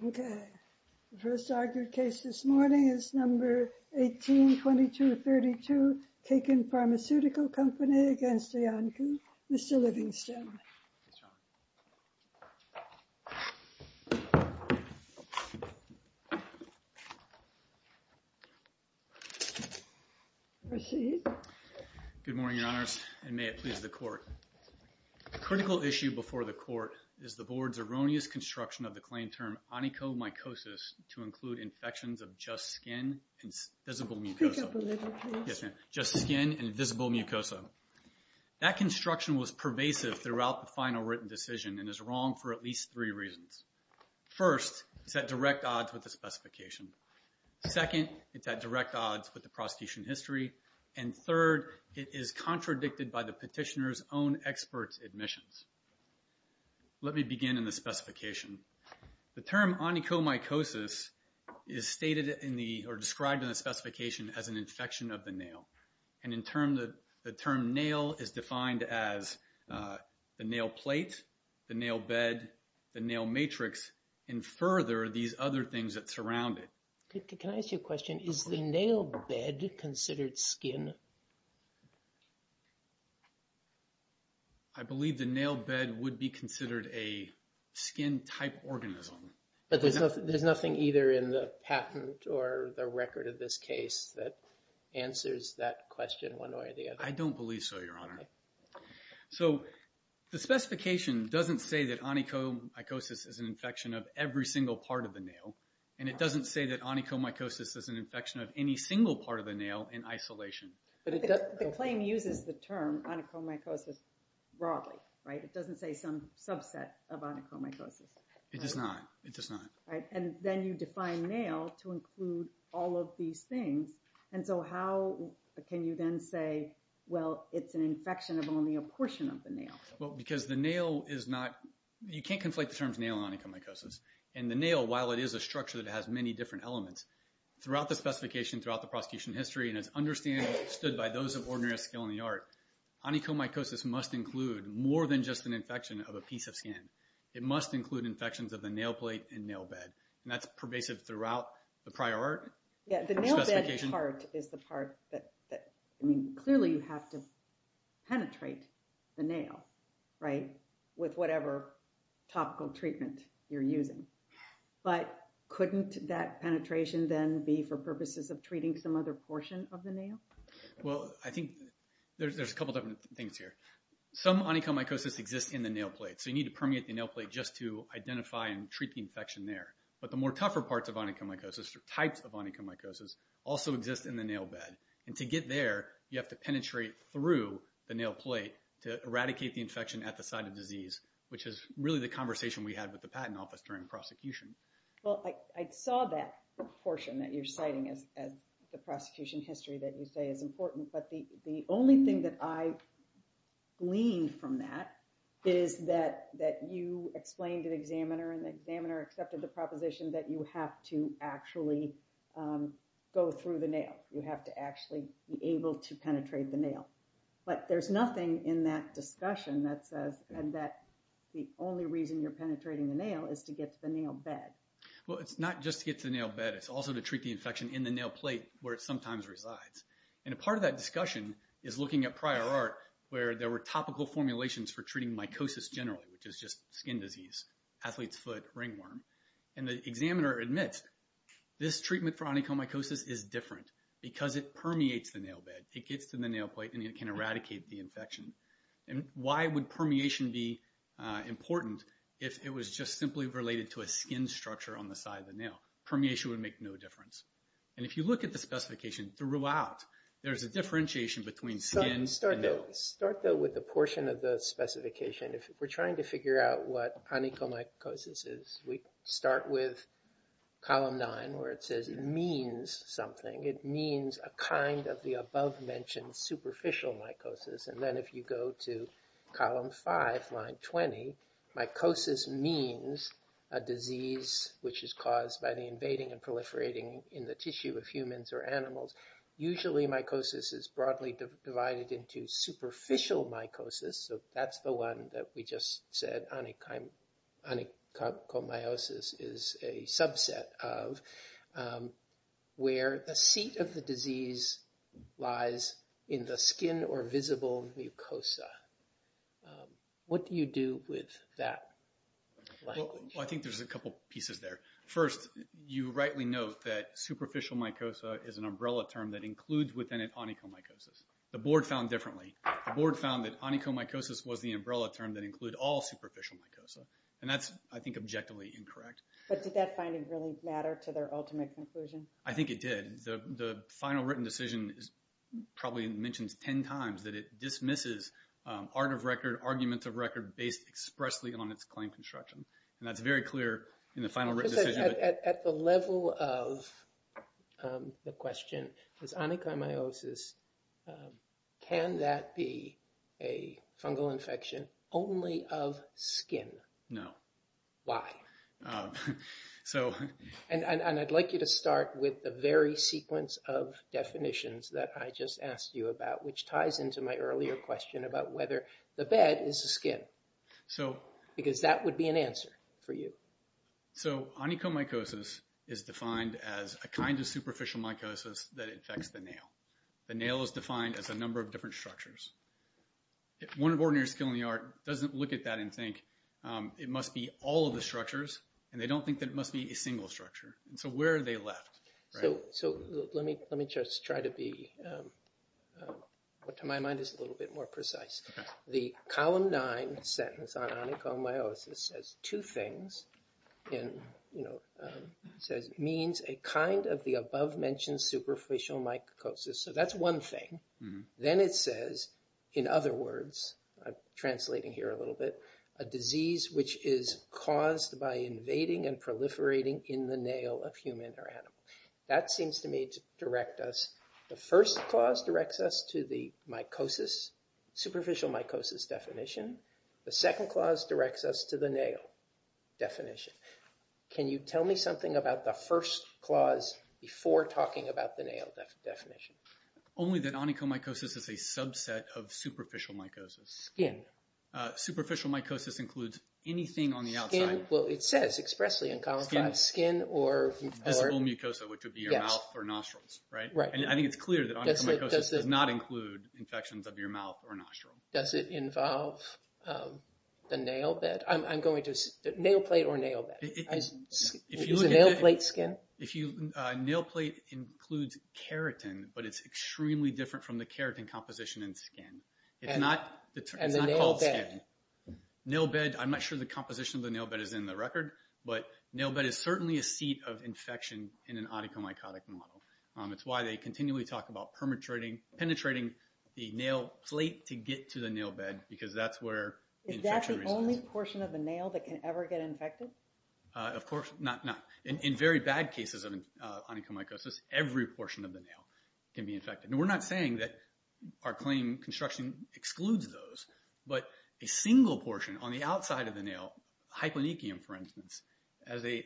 The first argued case this morning is Number 18-2232, Kaken Pharmaceutical Co., Ltd. v. Iancu. Mr. Livingstone, proceed. Good morning, Your Honors, and may it please the Court. A critical issue before the Court is the Board's erroneous construction of the claim term onychomycosis to include infections of just skin and visible mucosa. That construction was pervasive throughout the final written decision and is wrong for at least three reasons. First, it's at direct odds with the specification. Second, it's at direct odds with the prosecution history. And third, it is contradicted by the petitioner's own expert's admissions. Let me begin in the specification. The term onychomycosis is stated in the, or described in the specification as an infection of the nail. And in term, the term nail is defined as the nail plate, the nail bed, the nail matrix, and further, these other things that surround it. Can I ask you a question? Is the nail bed considered skin? I believe the nail bed would be considered a skin-type organism. But there's nothing either in the patent or the record of this case that answers that question one way or the other. I don't believe so, Your Honor. So the specification doesn't say that onychomycosis is an infection of every single part of the nail, and it doesn't say that onychomycosis is an infection of any single part of the nail in isolation. But the claim uses the term onychomycosis broadly, right? It doesn't say some subset of onychomycosis. It does not. It does not. Right. And then you define nail to include all of these things. And so how can you then say, well, it's an infection of only a portion of the nail? Well, because the nail is not, you can't conflate the terms nail and onychomycosis. And the nail, while it is a structure that has many different elements, throughout the specification, throughout the prosecution history, and it's understood by those of ordinary skill in the art, onychomycosis must include more than just an infection of a piece of skin. It must include infections of the nail plate and nail bed. And that's pervasive throughout the prior art. Yeah, the nail bed part is the part that, I mean, clearly you have to But couldn't that penetration then be for purposes of treating some other portion of the nail? Well, I think there's a couple different things here. Some onychomycosis exists in the nail plate. So you need to permeate the nail plate just to identify and treat the infection there. But the more tougher parts of onychomycosis, or types of onychomycosis, also exist in the nail bed. And to get there, you have to penetrate through the nail plate to eradicate the infection at the site of disease, which is really the conversation we had with the patent office during prosecution. Well, I saw that portion that you're citing as the prosecution history that you say is important. But the only thing that I gleaned from that is that you explained to the examiner, and the examiner accepted the proposition that you have to actually go through the nail. You have to be able to penetrate the nail. But there's nothing in that discussion that says that the only reason you're penetrating the nail is to get to the nail bed. Well, it's not just to get to the nail bed. It's also to treat the infection in the nail plate where it sometimes resides. And a part of that discussion is looking at prior art where there were topical formulations for treating mycosis generally, which is just skin disease, athlete's foot, ringworm. And the examiner admits this permeates the nail bed. It gets to the nail plate, and it can eradicate the infection. And why would permeation be important if it was just simply related to a skin structure on the side of the nail? Permeation would make no difference. And if you look at the specification throughout, there's a differentiation between skin and nail. Start though with a portion of the specification. If we're trying to figure out what onychomycosis is, we start with column nine where it says it means something. It means a kind of the above-mentioned superficial mycosis. And then if you go to column five, line 20, mycosis means a disease which is caused by the invading and proliferating in the tissue of humans or animals. Usually, mycosis is broadly divided into superficial mycosis, so that's the one that we just said onychomyosis is a subset of, where the seat of the disease lies in the skin or visible mucosa. What do you do with that? Well, I think there's a couple pieces there. First, you rightly note that superficial mycosis is an umbrella term that includes within it onychomycosis. The board found differently. The board found that onychomycosis was the umbrella term that include all superficial mycosis. And that's, I think, objectively incorrect. But did that finding really matter to their ultimate conclusion? I think it did. The final written decision probably mentions 10 times that it dismisses arguments of record based expressly on its claim construction. And that's very clear in the final written decision. At the level of the question, is onychomyosis, can that be a fungal infection only of skin? No. Why? And I'd like you to start with the very sequence of definitions that I just asked you about, which ties into my earlier question about the bed is the skin. Because that would be an answer for you. So onychomycosis is defined as a kind of superficial mycosis that infects the nail. The nail is defined as a number of different structures. One of ordinary skill in the art doesn't look at that and think, it must be all of the structures. And they don't think that it must be a single structure. And so where are they left? So let me just try to be, what to my mind is a little bit more precise. The column nine sentence on onychomyosis says two things. It says, means a kind of the above mentioned superficial mycosis. So that's one thing. Then it says, in other words, translating here a little bit, a disease which is caused by invading and proliferating in the nail of human or animal. That seems to me to direct us. The first clause directs us to the mycosis, superficial mycosis definition. The second clause directs us to the nail definition. Can you tell me something about the first clause before talking about the nail definition? Only that onychomycosis is a subset of superficial mycosis. Skin. Superficial mycosis includes anything on the outside. Well, it says expressly in column five. Skin or visible mucosa, which would be your mouth or nostrils, right? And I think it's clear that onychomycosis does not include infections of your mouth or nostril. Does it involve the nail bed? I'm going to, nail plate or nail bed? Is the nail plate skin? Nail plate includes keratin, but it's extremely different from the keratin composition in skin. It's not called skin. And the nail bed? Nail bed, I'm not sure the composition of the nail bed is in the record, but nail bed is certainly a seat of infection in an onychomycotic model. It's why they continually talk about penetrating the nail plate to get to the nail bed because that's where... Is that the only portion of the nail that can ever get infected? Of course not. In very bad cases of onychomycosis, every portion of the nail can be infected. We're not saying that our claim construction excludes those, but a single portion on the outside of the nail, hyponychium for instance, as the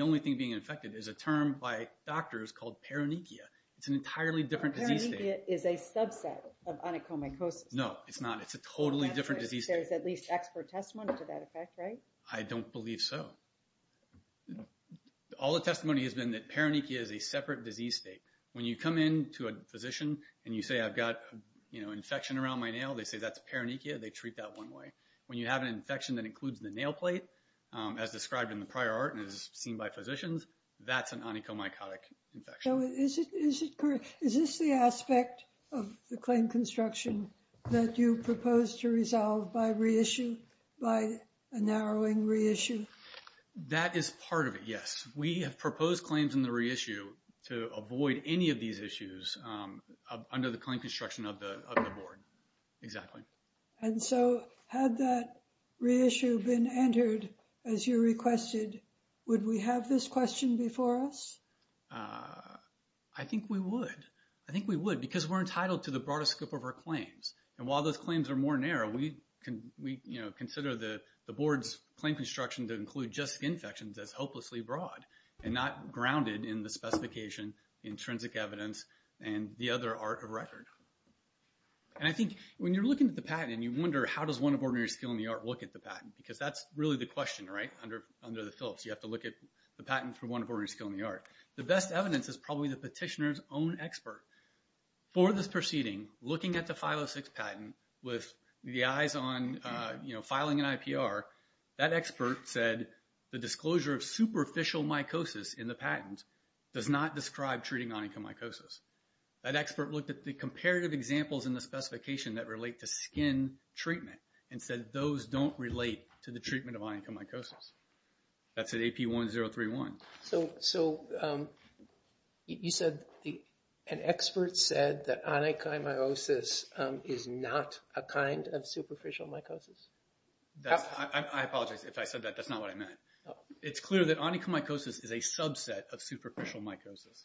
only thing being infected is a term by doctors called peronychia. It's an entirely different disease state. Peronychia is a subset of onychomycosis. No, it's not. It's a totally different disease state. There's at least expert testimony to that effect, right? I don't believe so. All the testimony has been that peronychia is a separate disease state. When you come in to a physician and you say, I've got infection around my nail, they say that's peronychia. They treat that one way. When you have an infection that includes the nail plate, as described in the prior art and as seen by physicians, that's an onychomycotic infection. Is this the aspect of the claim construction that you propose to resolve by a narrowing reissue? That is part of it, yes. We have proposed claims in the reissue to avoid any of these issues under the claim construction of the board. Exactly. And so had that reissue been entered as you requested, would we have this question before us? I think we would. I think we would because we're entitled to the broadest scope of our claims. And while those claims are more narrow, we consider the board's claim construction to and not grounded in the specification, intrinsic evidence, and the other art of record. And I think when you're looking at the patent and you wonder, how does one of ordinary skill in the art look at the patent? Because that's really the question, right, under the Phillips. You have to look at the patent for one of ordinary skill in the art. The best evidence is probably the petitioner's own expert. For this proceeding, looking at the 506 patent with the eyes on filing an IPR, that expert said the disclosure of superficial mycosis in the patent does not describe treating onychomycosis. That expert looked at the comparative examples in the specification that relate to skin treatment and said those don't relate to the treatment of onychomycosis. That's at AP 1031. So you said an expert said that onychomyosis is not a kind of superficial mycosis? That's, I apologize if I said that. That's not what I meant. It's clear that onychomycosis is a subset of superficial mycosis.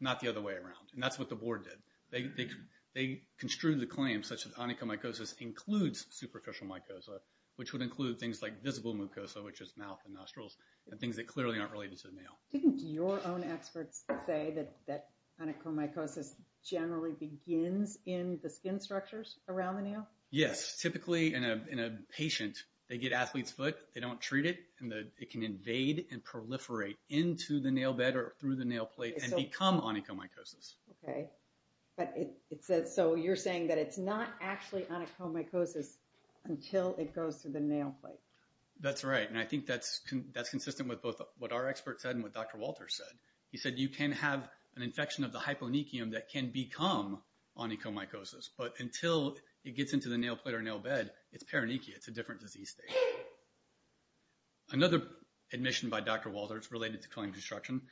Not the other way around. And that's what the board did. They construed the claim such that onychomycosis includes superficial mycosis, which would include things like visible mucosa, which is mouth and nostrils, and things that clearly aren't related to the nail. Didn't your own experts say that onychomycosis generally begins in the skin structures around the nail? Yes. Typically in a patient, they get athlete's foot, they don't treat it, and it can invade and proliferate into the nail bed or through the nail plate and become onychomycosis. Okay. But it says, so you're saying that it's not actually onychomycosis until it goes through the nail plate? That's right. And I think that's consistent with both what our expert said and what Dr. Walter said. He said you can have an infection of the hyponychium that can become onychomycosis, but until it gets into the nail plate or nail bed, it's peronychia. It's a different disease state. Another admission by Dr. Walter, it's related to claim construction,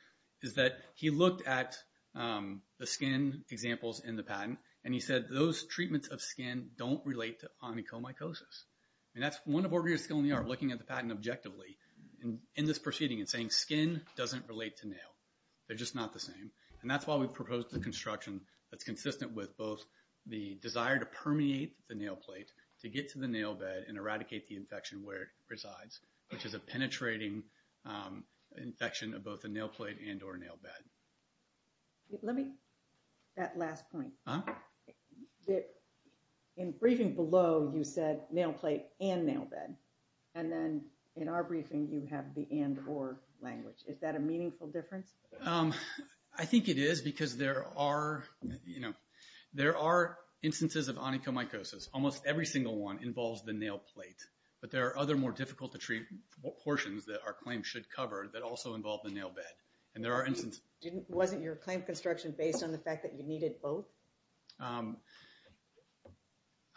is that he looked at the skin examples in the patent, and he said those treatments of skin don't relate to onychomycosis. And that's one of our areas of skill in the art, looking at the patent objectively in this proceeding and saying skin doesn't relate to nail. They're just not the same. And that's why we proposed the construction that's consistent with both the desire to permeate the nail plate to get to the nail bed and eradicate the infection where it resides, which is a penetrating infection of both the nail plate and or nail bed. Let me, that last point. In briefing below, you said nail plate and nail bed. And then in our briefing, you have the and or language. Is that a meaningful difference? Um, I think it is because there are, you know, there are instances of onychomycosis. Almost every single one involves the nail plate, but there are other more difficult to treat portions that our claim should cover that also involve the nail bed. And there are instances... Wasn't your claim construction based on the fact that you needed both? I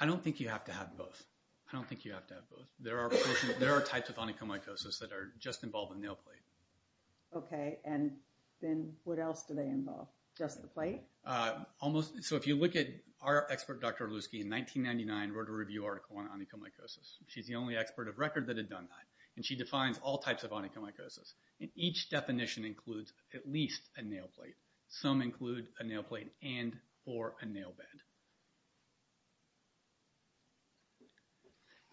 don't think you have to have both. I don't think you have to have both. There are types of onychomycosis that are just involved in nail plate. Okay, and then what else do they involve? Just the plate? So if you look at our expert, Dr. Lusky, in 1999 wrote a review article on onychomycosis. She's the only expert of record that had done that, and she defines all types of onychomycosis. And each definition includes at least a nail plate. Some include a nail plate and or a nail bed.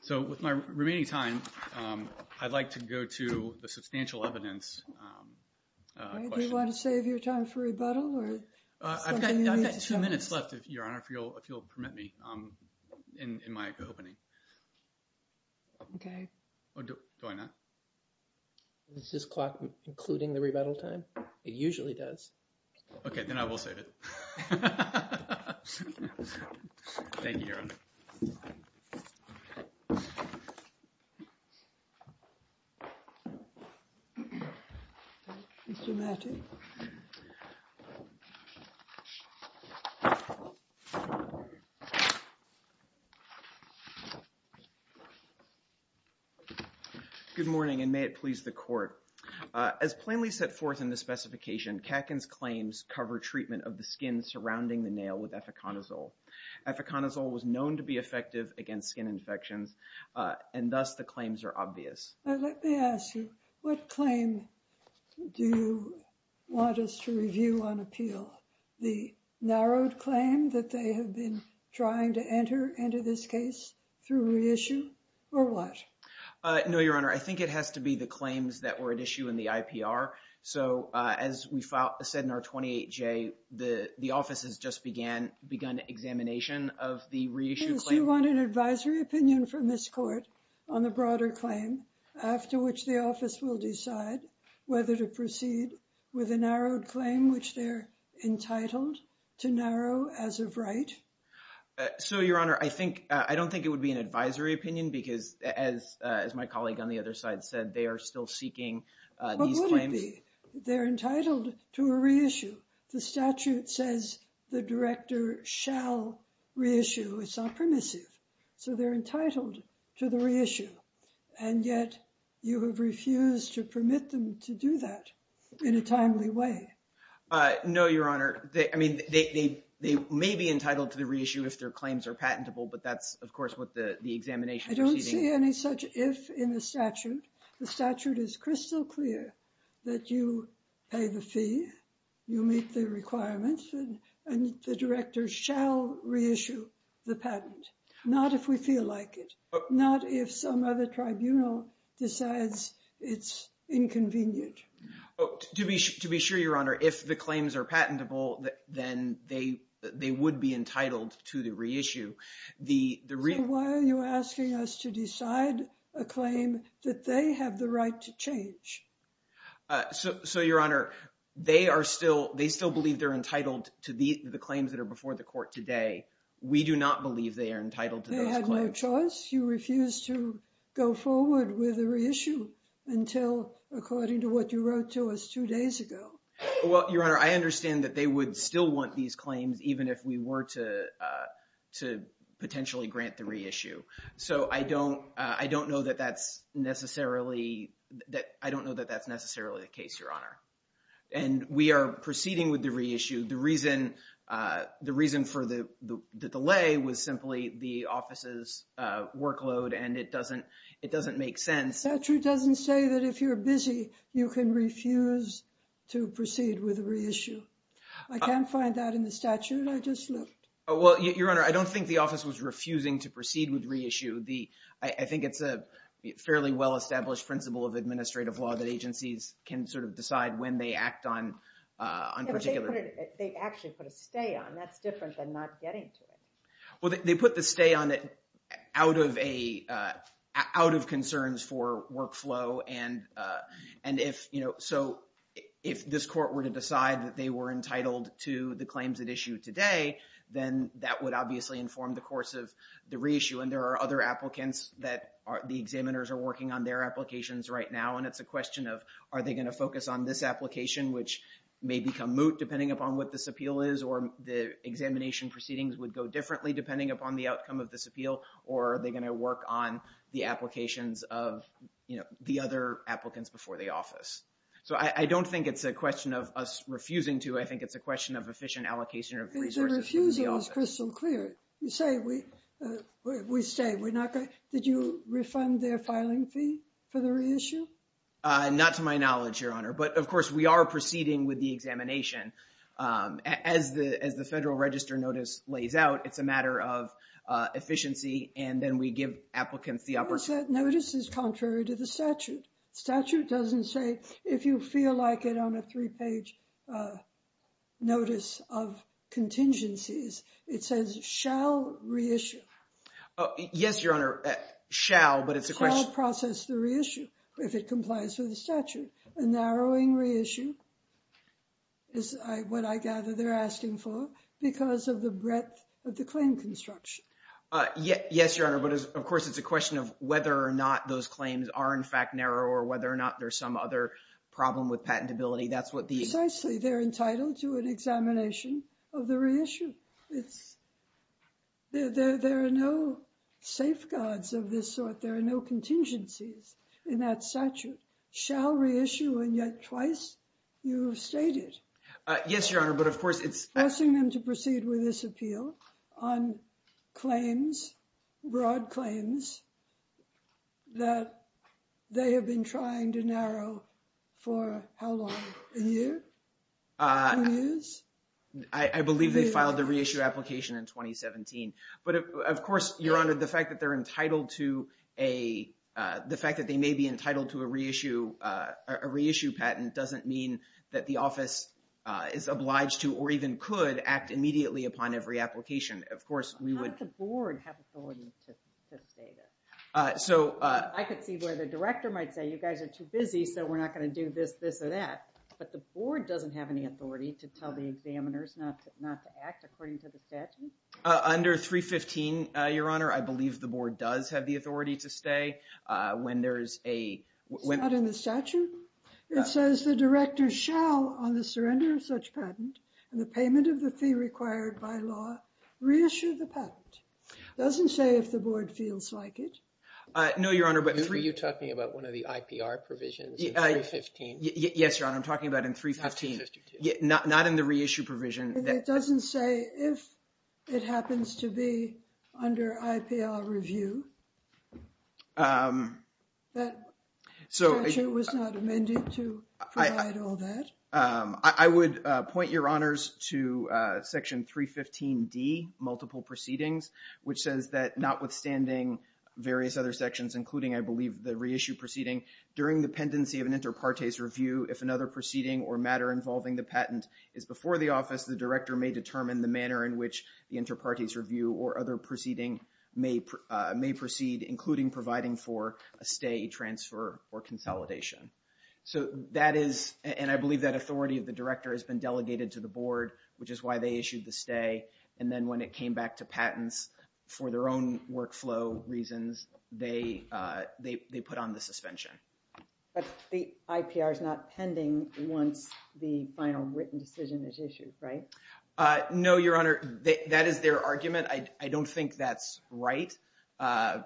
So with my remaining time, I'd like to go to the substantial evidence question. Okay, do you want to save your time for rebuttal, or something you need to show us? I've got two minutes left, Your Honor, if you'll permit me in my opening. Okay. Do I not? Is this clock including the rebuttal time? It usually does. Okay, then I will save it. Thank you, Your Honor. Good morning, and may it please the Court. As plainly set forth in the specification, Katkin's claims cover treatment of the skin surrounding the nail with eficonazole. Eficonazole was known to be effective against skin infections, and thus the claims are obvious. Let me ask you, what claim do you want us to review on appeal? The narrowed claim that they have been trying to enter into this case through reissue, or what? No, Your Honor, I think it has to be the claims that were at issue in the IPR. So, as we said in our 28-J, the office has just begun examination of the reissued claim. So, you want an advisory opinion from this Court on the broader claim, after which the office will decide whether to proceed with a narrowed claim, which they're entitled to narrow as of right? So, Your Honor, I don't think it would be an advisory opinion, because, as my colleague on the other side said, they are still seeking these claims. They're entitled to a reissue. The statute says the director shall reissue. It's not permissive. So, they're entitled to the reissue. And yet, you have refused to permit them to do that in a timely way. No, Your Honor. I mean, they may be entitled to the reissue if their claims are patentable, but that's, of course, what the examination... I don't see any such if in the statute. The statute is crystal clear that you pay the fee, you meet the requirements, and the director shall reissue the patent. Not if we feel like it. Not if some other tribunal decides it's inconvenient. To be sure, Your Honor, if the claims are patentable, then they would be entitled to the reissue. So, why are you asking us to decide a claim that they have the right to change? So, Your Honor, they are still... They still believe they're entitled to the claims that are before the court today. We do not believe they are entitled to those claims. They had no choice. You refused to go forward with a reissue until, according to what you wrote to us two days ago. Well, Your Honor, I understand that they would still want these claims, even if we were to potentially grant the reissue. So, I don't know that that's necessarily the case, Your Honor. And we are proceeding with the reissue. The reason for the delay was simply the office's workload, and it doesn't make sense. The statute doesn't say that if you're busy, you can refuse to proceed with a reissue. I can't find that in the statute. I just looked. Well, Your Honor, I don't think the office was refusing to proceed with reissue. I think it's a fairly well-established principle of administrative law that agencies can sort of decide when they act on particular... They actually put a stay on. That's different than not getting to it. Well, they put the stay on it out of concerns for workflow. And so, if this court were to decide that they were entitled to the claims at issue today, then that would obviously inform the course of the reissue. And there are other applicants that the examiners are working on their applications right now. And it's a question of, are they going to focus on this application, which may become moot depending upon what this appeal is, or the examination proceedings would go differently depending upon the outcome of this appeal, or are they going to work on the applications of the other applicants before the office? So, I don't think it's a question of us refusing to. I think it's a question of efficient allocation of resources. Refusing is crystal clear. You say we stay. We're not going... Did you refund their filing fee for the reissue? Not to my knowledge, Your Honor. But, of course, we are proceeding with the examination. As the Federal Register notice lays out, it's a matter of efficiency, and then we give applicants the opportunity... Well, that notice is contrary to the statute. Statute doesn't say if you feel like it on a three-page notice of contingencies. It says, shall reissue. Yes, Your Honor, shall, but it's a question... Shall process the reissue if it complies with the statute. A narrowing reissue is what I gather they're asking for because of the breadth of the claim construction. Yes, Your Honor. But, of course, it's a question of whether or not those claims are, in fact, narrow or whether or not there's some other problem with patentability. That's what the... Precisely. They're entitled to an examination of the reissue. There are no safeguards of this sort. There are no contingencies in that statute. Shall reissue, and yet twice you have stated... Yes, Your Honor, but, of course, it's... Asking them to proceed with this appeal on claims, broad claims that they have been trying to narrow for how long, a year, two years? I believe they filed the reissue application in 2017. But, of course, Your Honor, the fact that they're entitled to a... The fact that they may be entitled to a reissue patent doesn't mean that the office is obliged to, or even could, act immediately upon every application. Of course, we would... Does not the board have authority to stay there? I could see where the director might say, you guys are too busy, so we're not going to do this, this, or that. But the board doesn't have any authority to tell the examiners not to act according to the statute? Under 315, Your Honor, when there's a... It's not in the statute? It says the director shall, on the surrender of such patent, and the payment of the fee required by law, reissue the patent. Doesn't say if the board feels like it. No, Your Honor, but... Were you talking about one of the IPR provisions in 315? Yes, Your Honor, I'm talking about in 315. Not in the reissue provision. It doesn't say if it happens to be under IPR review? That statute was not amended to provide all that? I would point, Your Honors, to section 315D, multiple proceedings, which says that notwithstanding various other sections, including, I believe, the reissue proceeding, during the pendency of an inter partes review, if another proceeding or matter involving the patent is before the office, the director may determine the manner in which the inter partes review or other proceeding may proceed, including providing for a stay, transfer, or consolidation. So that is, and I believe that authority of the director has been delegated to the board, which is why they issued the stay. And then when it came back to patents for their own workflow reasons, they put on the suspension. But the IPR is not pending once the final written decision is issued, right? No, Your Honor, that is their argument. I don't think that's right.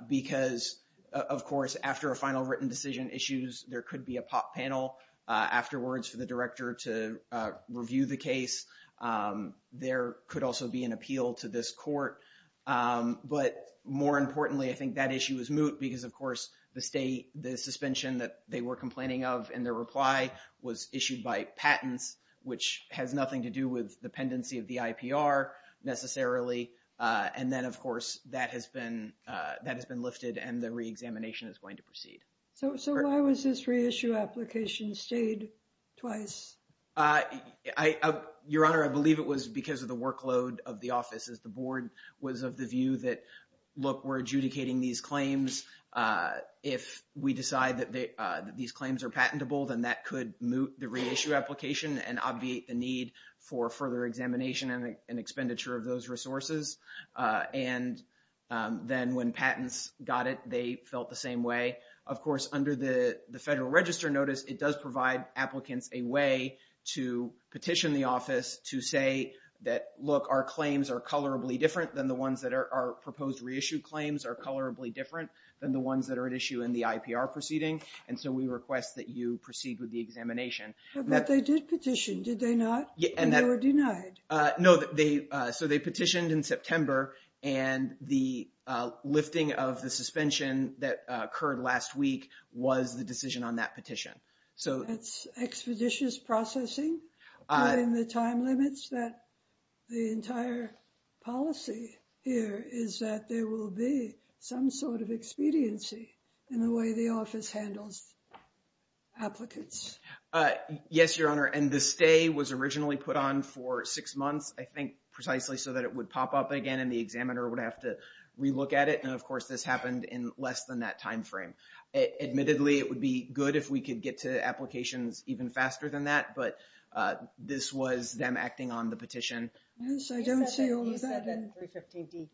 Because, of course, after a final written decision issues, there could be a panel afterwards for the director to review the case. There could also be an appeal to this court. But more importantly, I think that issue is moot because, of course, the stay, the suspension that they were complaining of in their reply was issued by patents, which has nothing to do with the pendency of the IPR, necessarily. And then, of course, that has been lifted and the reexamination is going to proceed. So why was this reissue application stayed twice? Your Honor, I believe it was because of the workload of the office as the board was of the view that, look, we're adjudicating these claims. If we decide that these claims are patentable, then that could moot the reissue application and obviate the need for further examination and expenditure of those resources. And then when patents got it, they felt the same way. Of course, under the Federal Register Notice, it does provide applicants a way to petition the office to say that, look, our claims are colorably different than the ones that are proposed reissue claims are colorably different than the ones that are at issue in the IPR proceeding. And so we request that you proceed with the examination. But they did petition, did they not? And they were denied. No, so they petitioned in September and the lifting of the suspension that occurred last week was the decision on that petition. So it's expeditious processing within the time limits that the entire policy here is that there will be some sort of expediency in the way the office handles applicants. Yes, Your Honor. And the stay was originally put on for six months, I think precisely so that it would pop up again and the examiner would have to relook at it. And of course, this happened in less than that timeframe. Admittedly, it would be good if we could get to applications even faster than that. But this was them acting on the petition. Yes, I don't see all of that. You said that 315D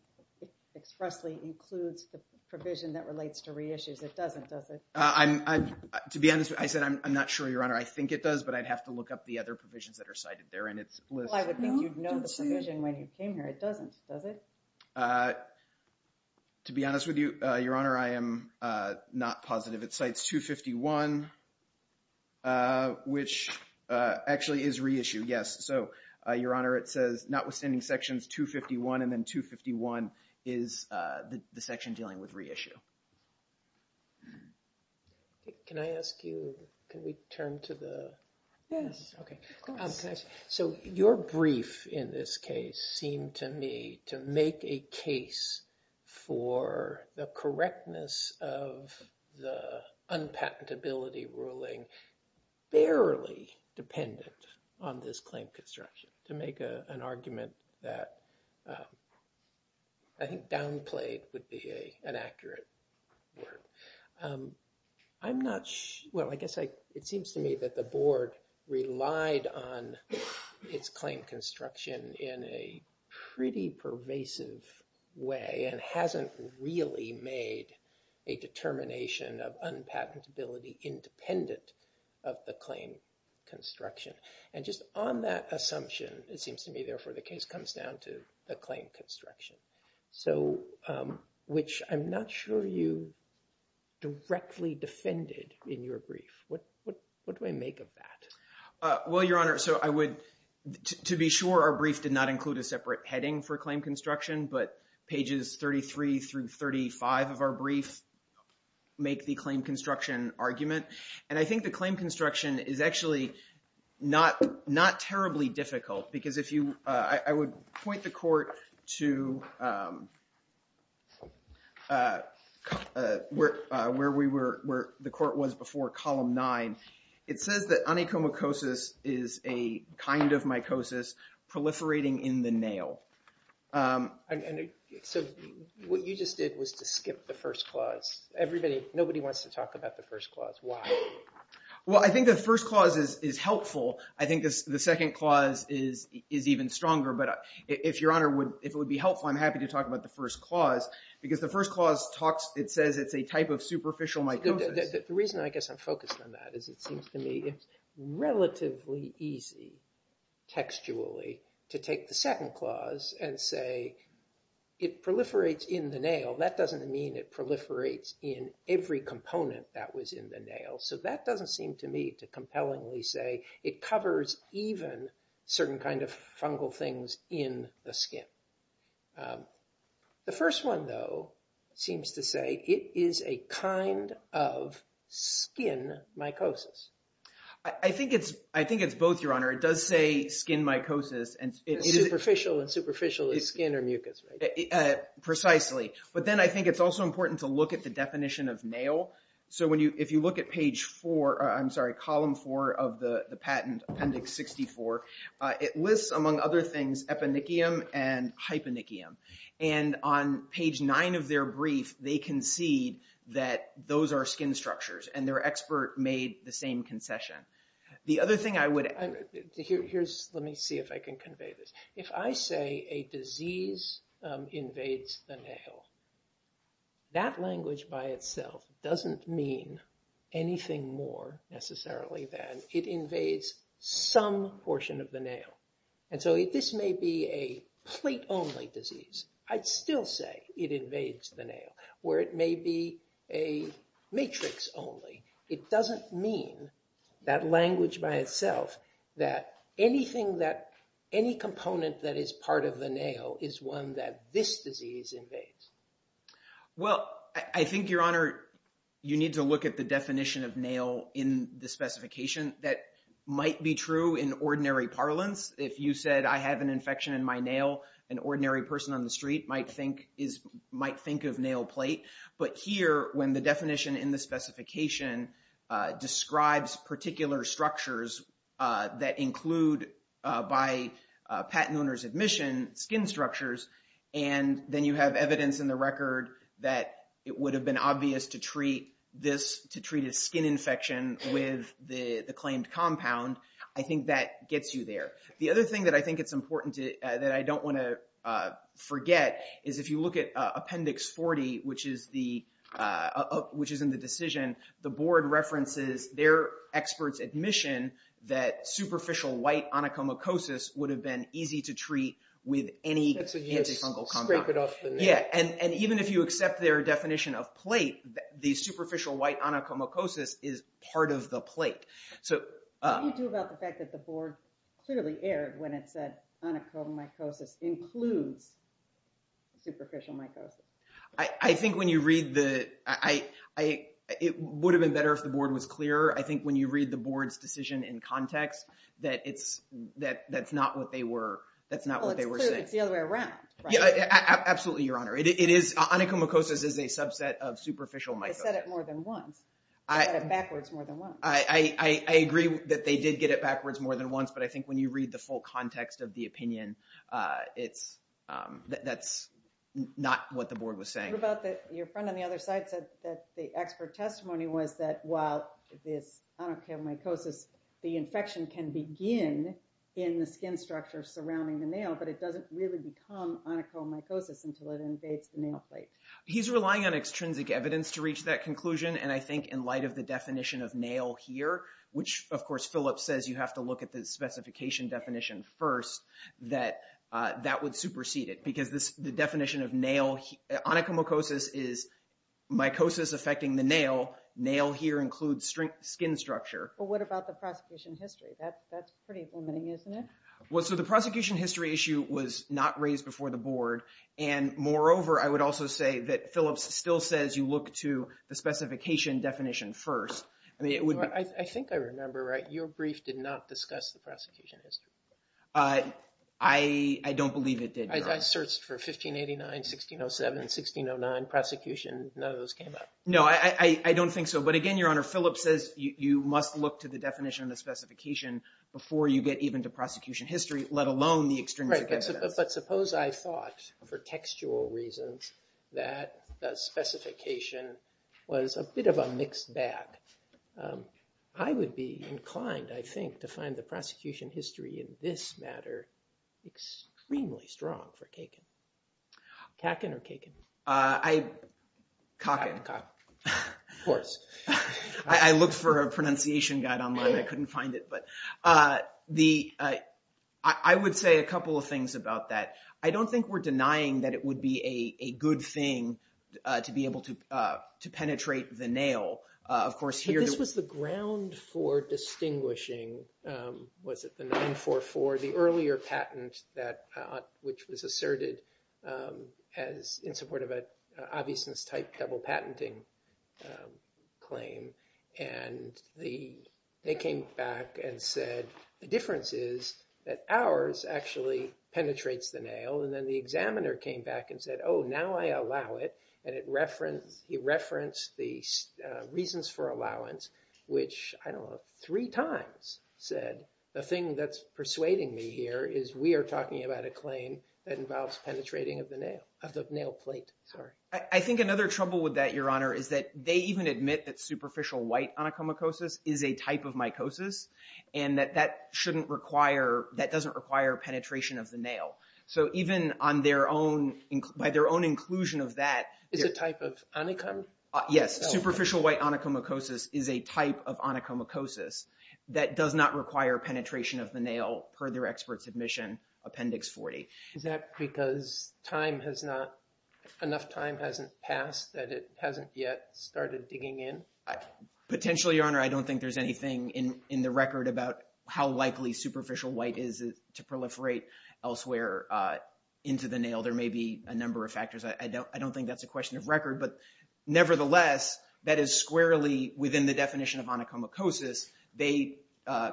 expressly includes the provision that relates to reissues. To be honest, I said, I'm not sure, Your Honor. I think it does, but I'd have to look up the other provisions that are cited there. Well, I would think you'd know the provision when you came here. It doesn't, does it? To be honest with you, Your Honor, I am not positive. It cites 251, which actually is reissue, yes. So, Your Honor, it says notwithstanding sections 251 and then 251 is the section dealing with reissue. Okay, can I ask you, can we turn to the, yes, okay. Of course. So, your brief in this case seemed to me to make a case for the correctness of the unpatentability ruling barely dependent on this claim construction, to make an argument that I think downplayed would be an accurate word. I'm not, well, I guess it seems to me that the board relied on its claim construction in a pretty pervasive way and hasn't really made a determination of unpatentability independent of the claim construction. And just on that assumption, it seems to me, therefore, the case comes down to the claim construction. So, which I'm not sure you directly defended in your brief. What do I make of that? Well, Your Honor, so I would, to be sure, our brief did not include a separate heading for claim construction, but pages 33 through 35 of our brief make the claim construction argument. And I think the claim construction is actually not terribly difficult because if you, I would point the court to where the court was before column nine. It says that onychomycosis is a kind of mycosis proliferating in the nail. So, what you just did was to skip the first clause. Everybody, nobody wants to talk about the first clause. Why? Well, I think the first clause is helpful. I think the second clause is even stronger. But if Your Honor would, if it would be helpful, I'm happy to talk about the first clause because the first clause talks, it says it's a type of superficial mycosis. The reason I guess I'm focused on that is it seems to me it's relatively easy textually to take the second clause and say it proliferates in the nail. That doesn't mean it proliferates in every component that was in the nail. So, that doesn't seem to me to compellingly say it covers even certain kind of fungal things in the skin. The first one, though, seems to say it is a kind of skin mycosis. I think it's both, Your Honor. It does say skin mycosis. And superficial and superficial is skin or mucus, right? Precisely. But then I think it's also important to look at the definition of nail. So, if you look at page four, I'm sorry, column four of the patent, Appendix 64, it lists, among other things, eponychium and hyponychium. And on page nine of their brief, they concede that those are skin structures and their expert made the same concession. The other thing I would, here's, let me see if I can convey this. If I say a disease invades the nail, that language by itself doesn't mean anything more necessarily than it invades some portion of the nail. And so, this may be a plate-only disease. I'd still say it invades the nail. Where it may be a matrix only, it doesn't mean that language by itself that anything that, any component that is part of the nail is one that this disease invades. Well, I think, Your Honor, you need to look at the definition of nail in the specification. That might be true in ordinary parlance. If you said, I have an infection in my nail, an ordinary person on the street might think of nail plate. But here, when the definition in the specification describes particular structures that include, by patent owner's admission, skin structures, and then you have evidence in the record that it would have been obvious to treat this, to treat a skin infection with the claimed compound, I think that gets you there. The other thing that I think it's important that I don't wanna forget is if you look at Appendix 40, which is in the decision, the board references their expert's admission that superficial white onychomycosis would have been easy to treat with any antifungal compound. That's a yes, scrape it off the nail. Yeah, and even if you accept their definition of plate, the superficial white onychomycosis is part of the plate. So... What do you do about the fact that the board clearly aired when it said onychomycosis includes superficial mycosis? I think when you read the... It would have been better if the board was clearer. I think when you read the board's decision in context, that's not what they were... Well, it's clear, it's the other way around, right? Yeah, absolutely, Your Honor. Onychomycosis is a subset of superficial mycosis. They said it more than once. They said it backwards more than once. I agree that they did get it backwards more than once, but I think when you read the full context of the opinion, that's not what the board was saying. What about your friend on the other side said that the expert testimony was that while this onychomycosis, the infection can begin in the skin structure surrounding the nail, but it doesn't really become onychomycosis until it invades the nail plate? He's relying on extrinsic evidence to reach that conclusion, and I think in light of the definition of nail here, which of course, Philip says you have to look at the specification definition first, that that would supersede it because the definition of onychomycosis is mycosis affecting the nail. Nail here includes skin structure. But what about the prosecution history? That's pretty limiting, isn't it? So the prosecution history issue was not raised before the board, and moreover, I would also say that Philip still says you look to the specification definition first. I think I remember, right? Your brief did not discuss the prosecution history. I don't believe it did, Your Honor. I searched for 1589, 1607, 1609 prosecution. None of those came up. No, I don't think so. But again, Your Honor, Philip says you must look to the definition of the specification before you get even to prosecution history, let alone the extrinsic evidence. But suppose I thought, for textual reasons, that the specification was a bit of a mixed bag. I would be inclined, I think, to find the prosecution history in this matter extremely strong for Kakin. Kakin or Kakin? I, Kakin. Kakin, Kakin, of course. I looked for a pronunciation guide online. I couldn't find it. I would say a couple of things about that. I don't think we're denying that it would be a good thing to be able to penetrate the nail. Of course, here— But this was the ground for distinguishing, was it, the 944, the earlier patent which was asserted in support of an obviousness-type double patenting claim. And they came back and said, the difference is that ours actually penetrates the nail. And then the examiner came back and said, oh, now I allow it. And he referenced the reasons for allowance, which, I don't know, three times said, the thing that's persuading me here is we are talking about a claim that involves penetrating of the nail, of the nail plate, sorry. I think another trouble with that, Your Honor, is that they even admit that superficial white onychomycosis is a type of mycosis and that that shouldn't require, that doesn't require penetration of the nail. So even on their own, by their own inclusion of that— It's a type of onychomycosis? Yes, superficial white onychomycosis is a type of onychomycosis that does not require penetration of the nail per their expert submission, Appendix 40. Is that because time has not, enough time hasn't passed that it hasn't yet started digging in? Potentially, Your Honor. I don't think there's anything in the record about how likely superficial white is to proliferate elsewhere into the nail. There may be a number of factors. I don't think that's a question of record. But nevertheless, that is squarely within the definition of onychomycosis. They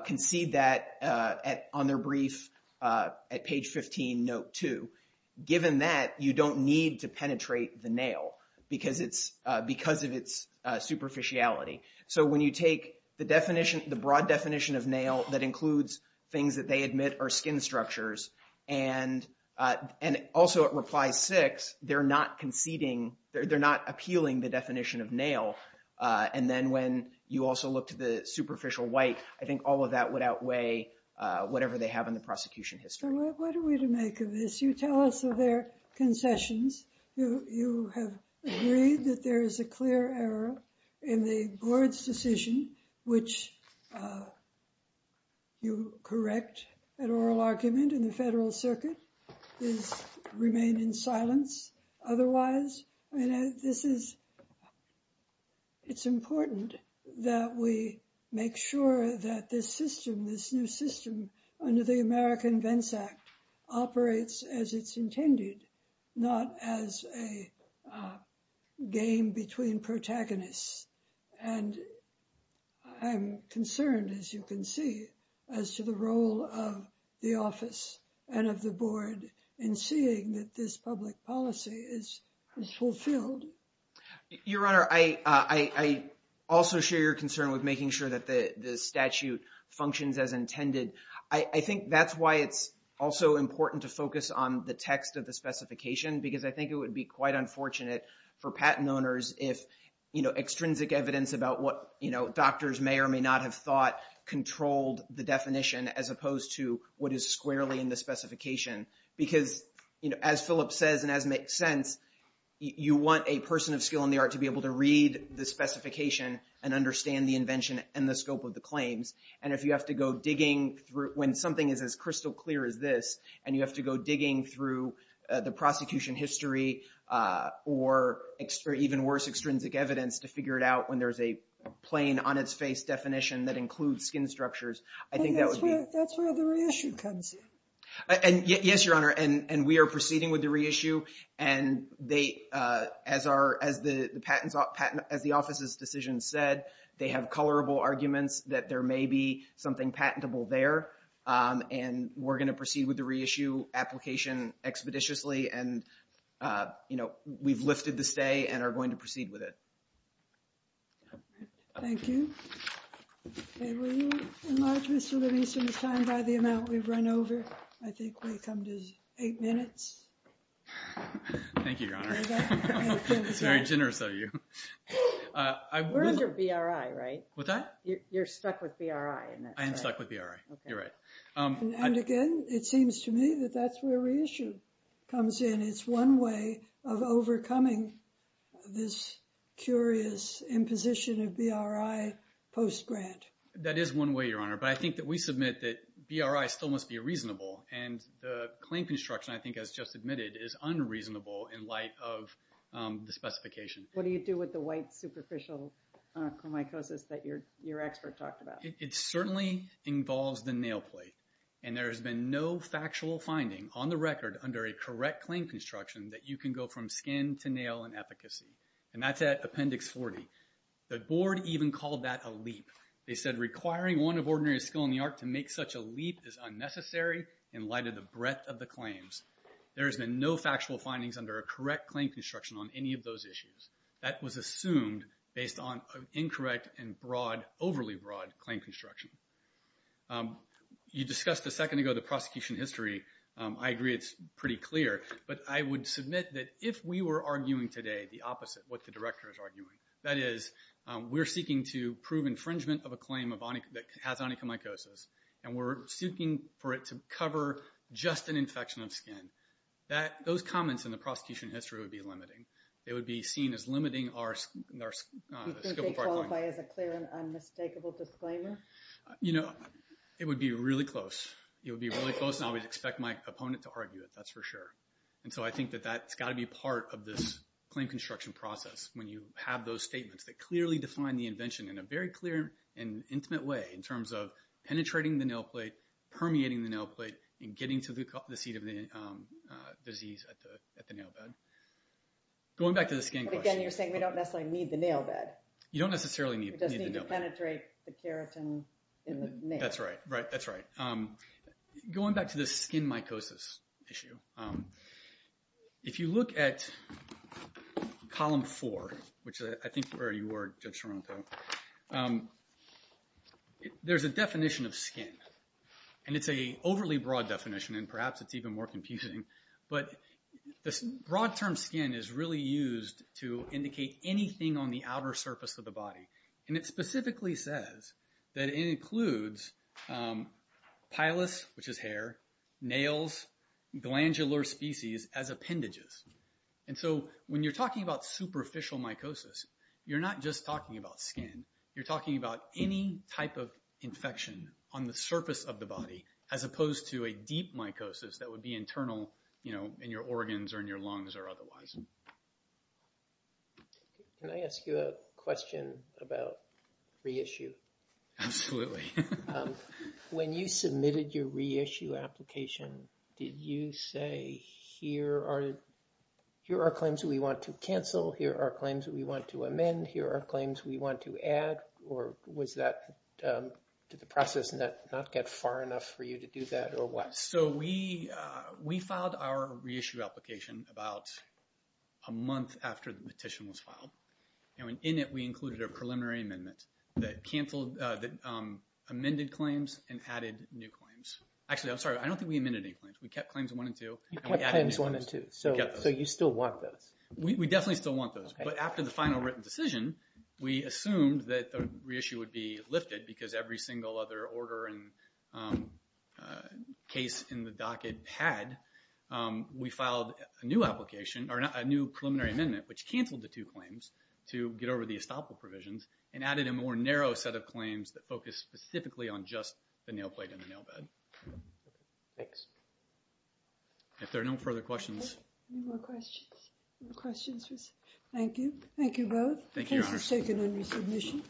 concede that on their brief at page 15, note two. Given that, you don't need to penetrate the nail because of its superficiality. So when you take the definition, the broad definition of nail that includes things that they admit are skin structures and also at reply six, they're not conceding, they're not appealing the definition of nail. And then when you also look to the superficial white, I think all of that would outweigh whatever they have in the prosecution history. What are we to make of this? You tell us of their concessions. You have agreed that there is a clear error in the board's decision, which you correct an oral argument in the federal circuit is remain in silence. Otherwise, I mean, this is, it's important that we make sure that this system, this new system under the American Vents Act operates as it's intended, not as a game between protagonists. And I'm concerned, as you can see, as to the role of the office and of the board in seeing that this public policy is fulfilled. Your Honor, I also share your concern with making sure that the statute functions as intended. I think that's why it's also important to focus on the text of the specification, because I think it would be quite unfortunate for patent owners if, you know, extrinsic evidence about what, you know, doctors may or may not have thought controlled the definition as opposed to what is squarely in the specification. Because, you know, as Philip says, and as makes sense, you want a person of skill in the art to be able to read the specification and understand the invention and the scope of the claims. And if you have to go digging through, when something is as crystal clear as this, and you have to go digging through the prosecution history or even worse, extrinsic evidence to figure it out when there's a plain on its face definition that includes skin structures, I think that would be- That's where the reissue comes in. And yes, Your Honor, and we are proceeding with the reissue. And they, as the patent, as the office's decision said, they have colorable arguments that there may be something patentable there. And we're going to proceed with the reissue application expeditiously. And, you know, we've lifted the stay and are going to proceed with it. Thank you. And will you enlarge Mr. Levinson's time by the amount we've run over? I think we've come to eight minutes. Thank you, Your Honor. It's very generous of you. We're under BRI, right? What's that? You're stuck with BRI, isn't it? I am stuck with BRI, you're right. And again, it seems to me that that's where reissue comes in. It's one way of overcoming this curious imposition of BRI post-grant. That is one way, Your Honor. But I think that we submit that BRI still must be reasonable. And the claim construction, I think as just admitted, is unreasonable in light of the specification. What do you do with the white superficial chromicosis that your expert talked about? It certainly involves the nail plate. And there has been no factual finding on the record under a correct claim construction that you can go from skin to nail and efficacy. And that's at appendix 40. The board even called that a leap. They said requiring one of ordinary skill in the art to make such a leap is unnecessary in light of the breadth of the claims. There has been no factual findings under a correct claim construction on any of those issues. That was assumed based on an incorrect and overly broad claim construction. You discussed a second ago the prosecution history. I agree it's pretty clear. But I would submit that if we were arguing today the opposite of what the director is arguing, that is we're seeking to prove infringement of a claim that has onychomycosis, and we're seeking for it to cover just an infection of skin, those comments in the prosecution history would be limiting. They would be seen as limiting our... Do you think they qualify as a clear and unmistakable disclaimer? You know, it would be really close. It would be really close, and I would expect my opponent to argue it. That's for sure. And so I think that that's got to be part of this claim construction process when you have those statements that clearly define the invention in a very clear and intimate way in terms of penetrating the nail plate, permeating the nail plate, and getting to the seat of the disease at the nail bed. Going back to the skin question. Again, you're saying we don't necessarily need the nail bed. You don't necessarily need the nail bed. We just need to penetrate the keratin in the nail. That's right, right, that's right. Going back to the skin mycosis issue, if you look at column four, which I think where you were, Judge Toronto, there's a definition of skin, and it's a overly broad definition, and perhaps it's even more confusing, but this broad term skin is really used to indicate anything on the outer surface of the body. And it specifically says that it includes pilus, which is hair, nails, glandular species as appendages. And so when you're talking about superficial mycosis, you're not just talking about skin. You're talking about any type of infection on the surface of the body as opposed to a deep mycosis that would be internal in your organs or in your lungs or otherwise. Can I ask you a question about reissue? Absolutely. When you submitted your reissue application, did you say here are claims we want to cancel, here are claims we want to amend, here are claims we want to add, or did the process not get far enough for you to do that, or what? So we filed our reissue application about a month after the petition was filed. In it, we included a preliminary amendment that amended claims and added new claims. Actually, I'm sorry. I don't think we amended any claims. We kept claims one and two. You kept claims one and two. So you still want those? We definitely still want those. But after the final written decision, we assumed that the reissue would be lifted because every single other order and case in the docket had. We filed a new application, or a new preliminary amendment, which canceled the two claims to get over the estoppel provisions and added a more narrow set of claims that focused specifically on just the nail plate and the nail bed. Thanks. If there are no further questions. Okay. Any more questions? Thank you. Thank you both. Thank you, Your Honor. Case is taken under submission.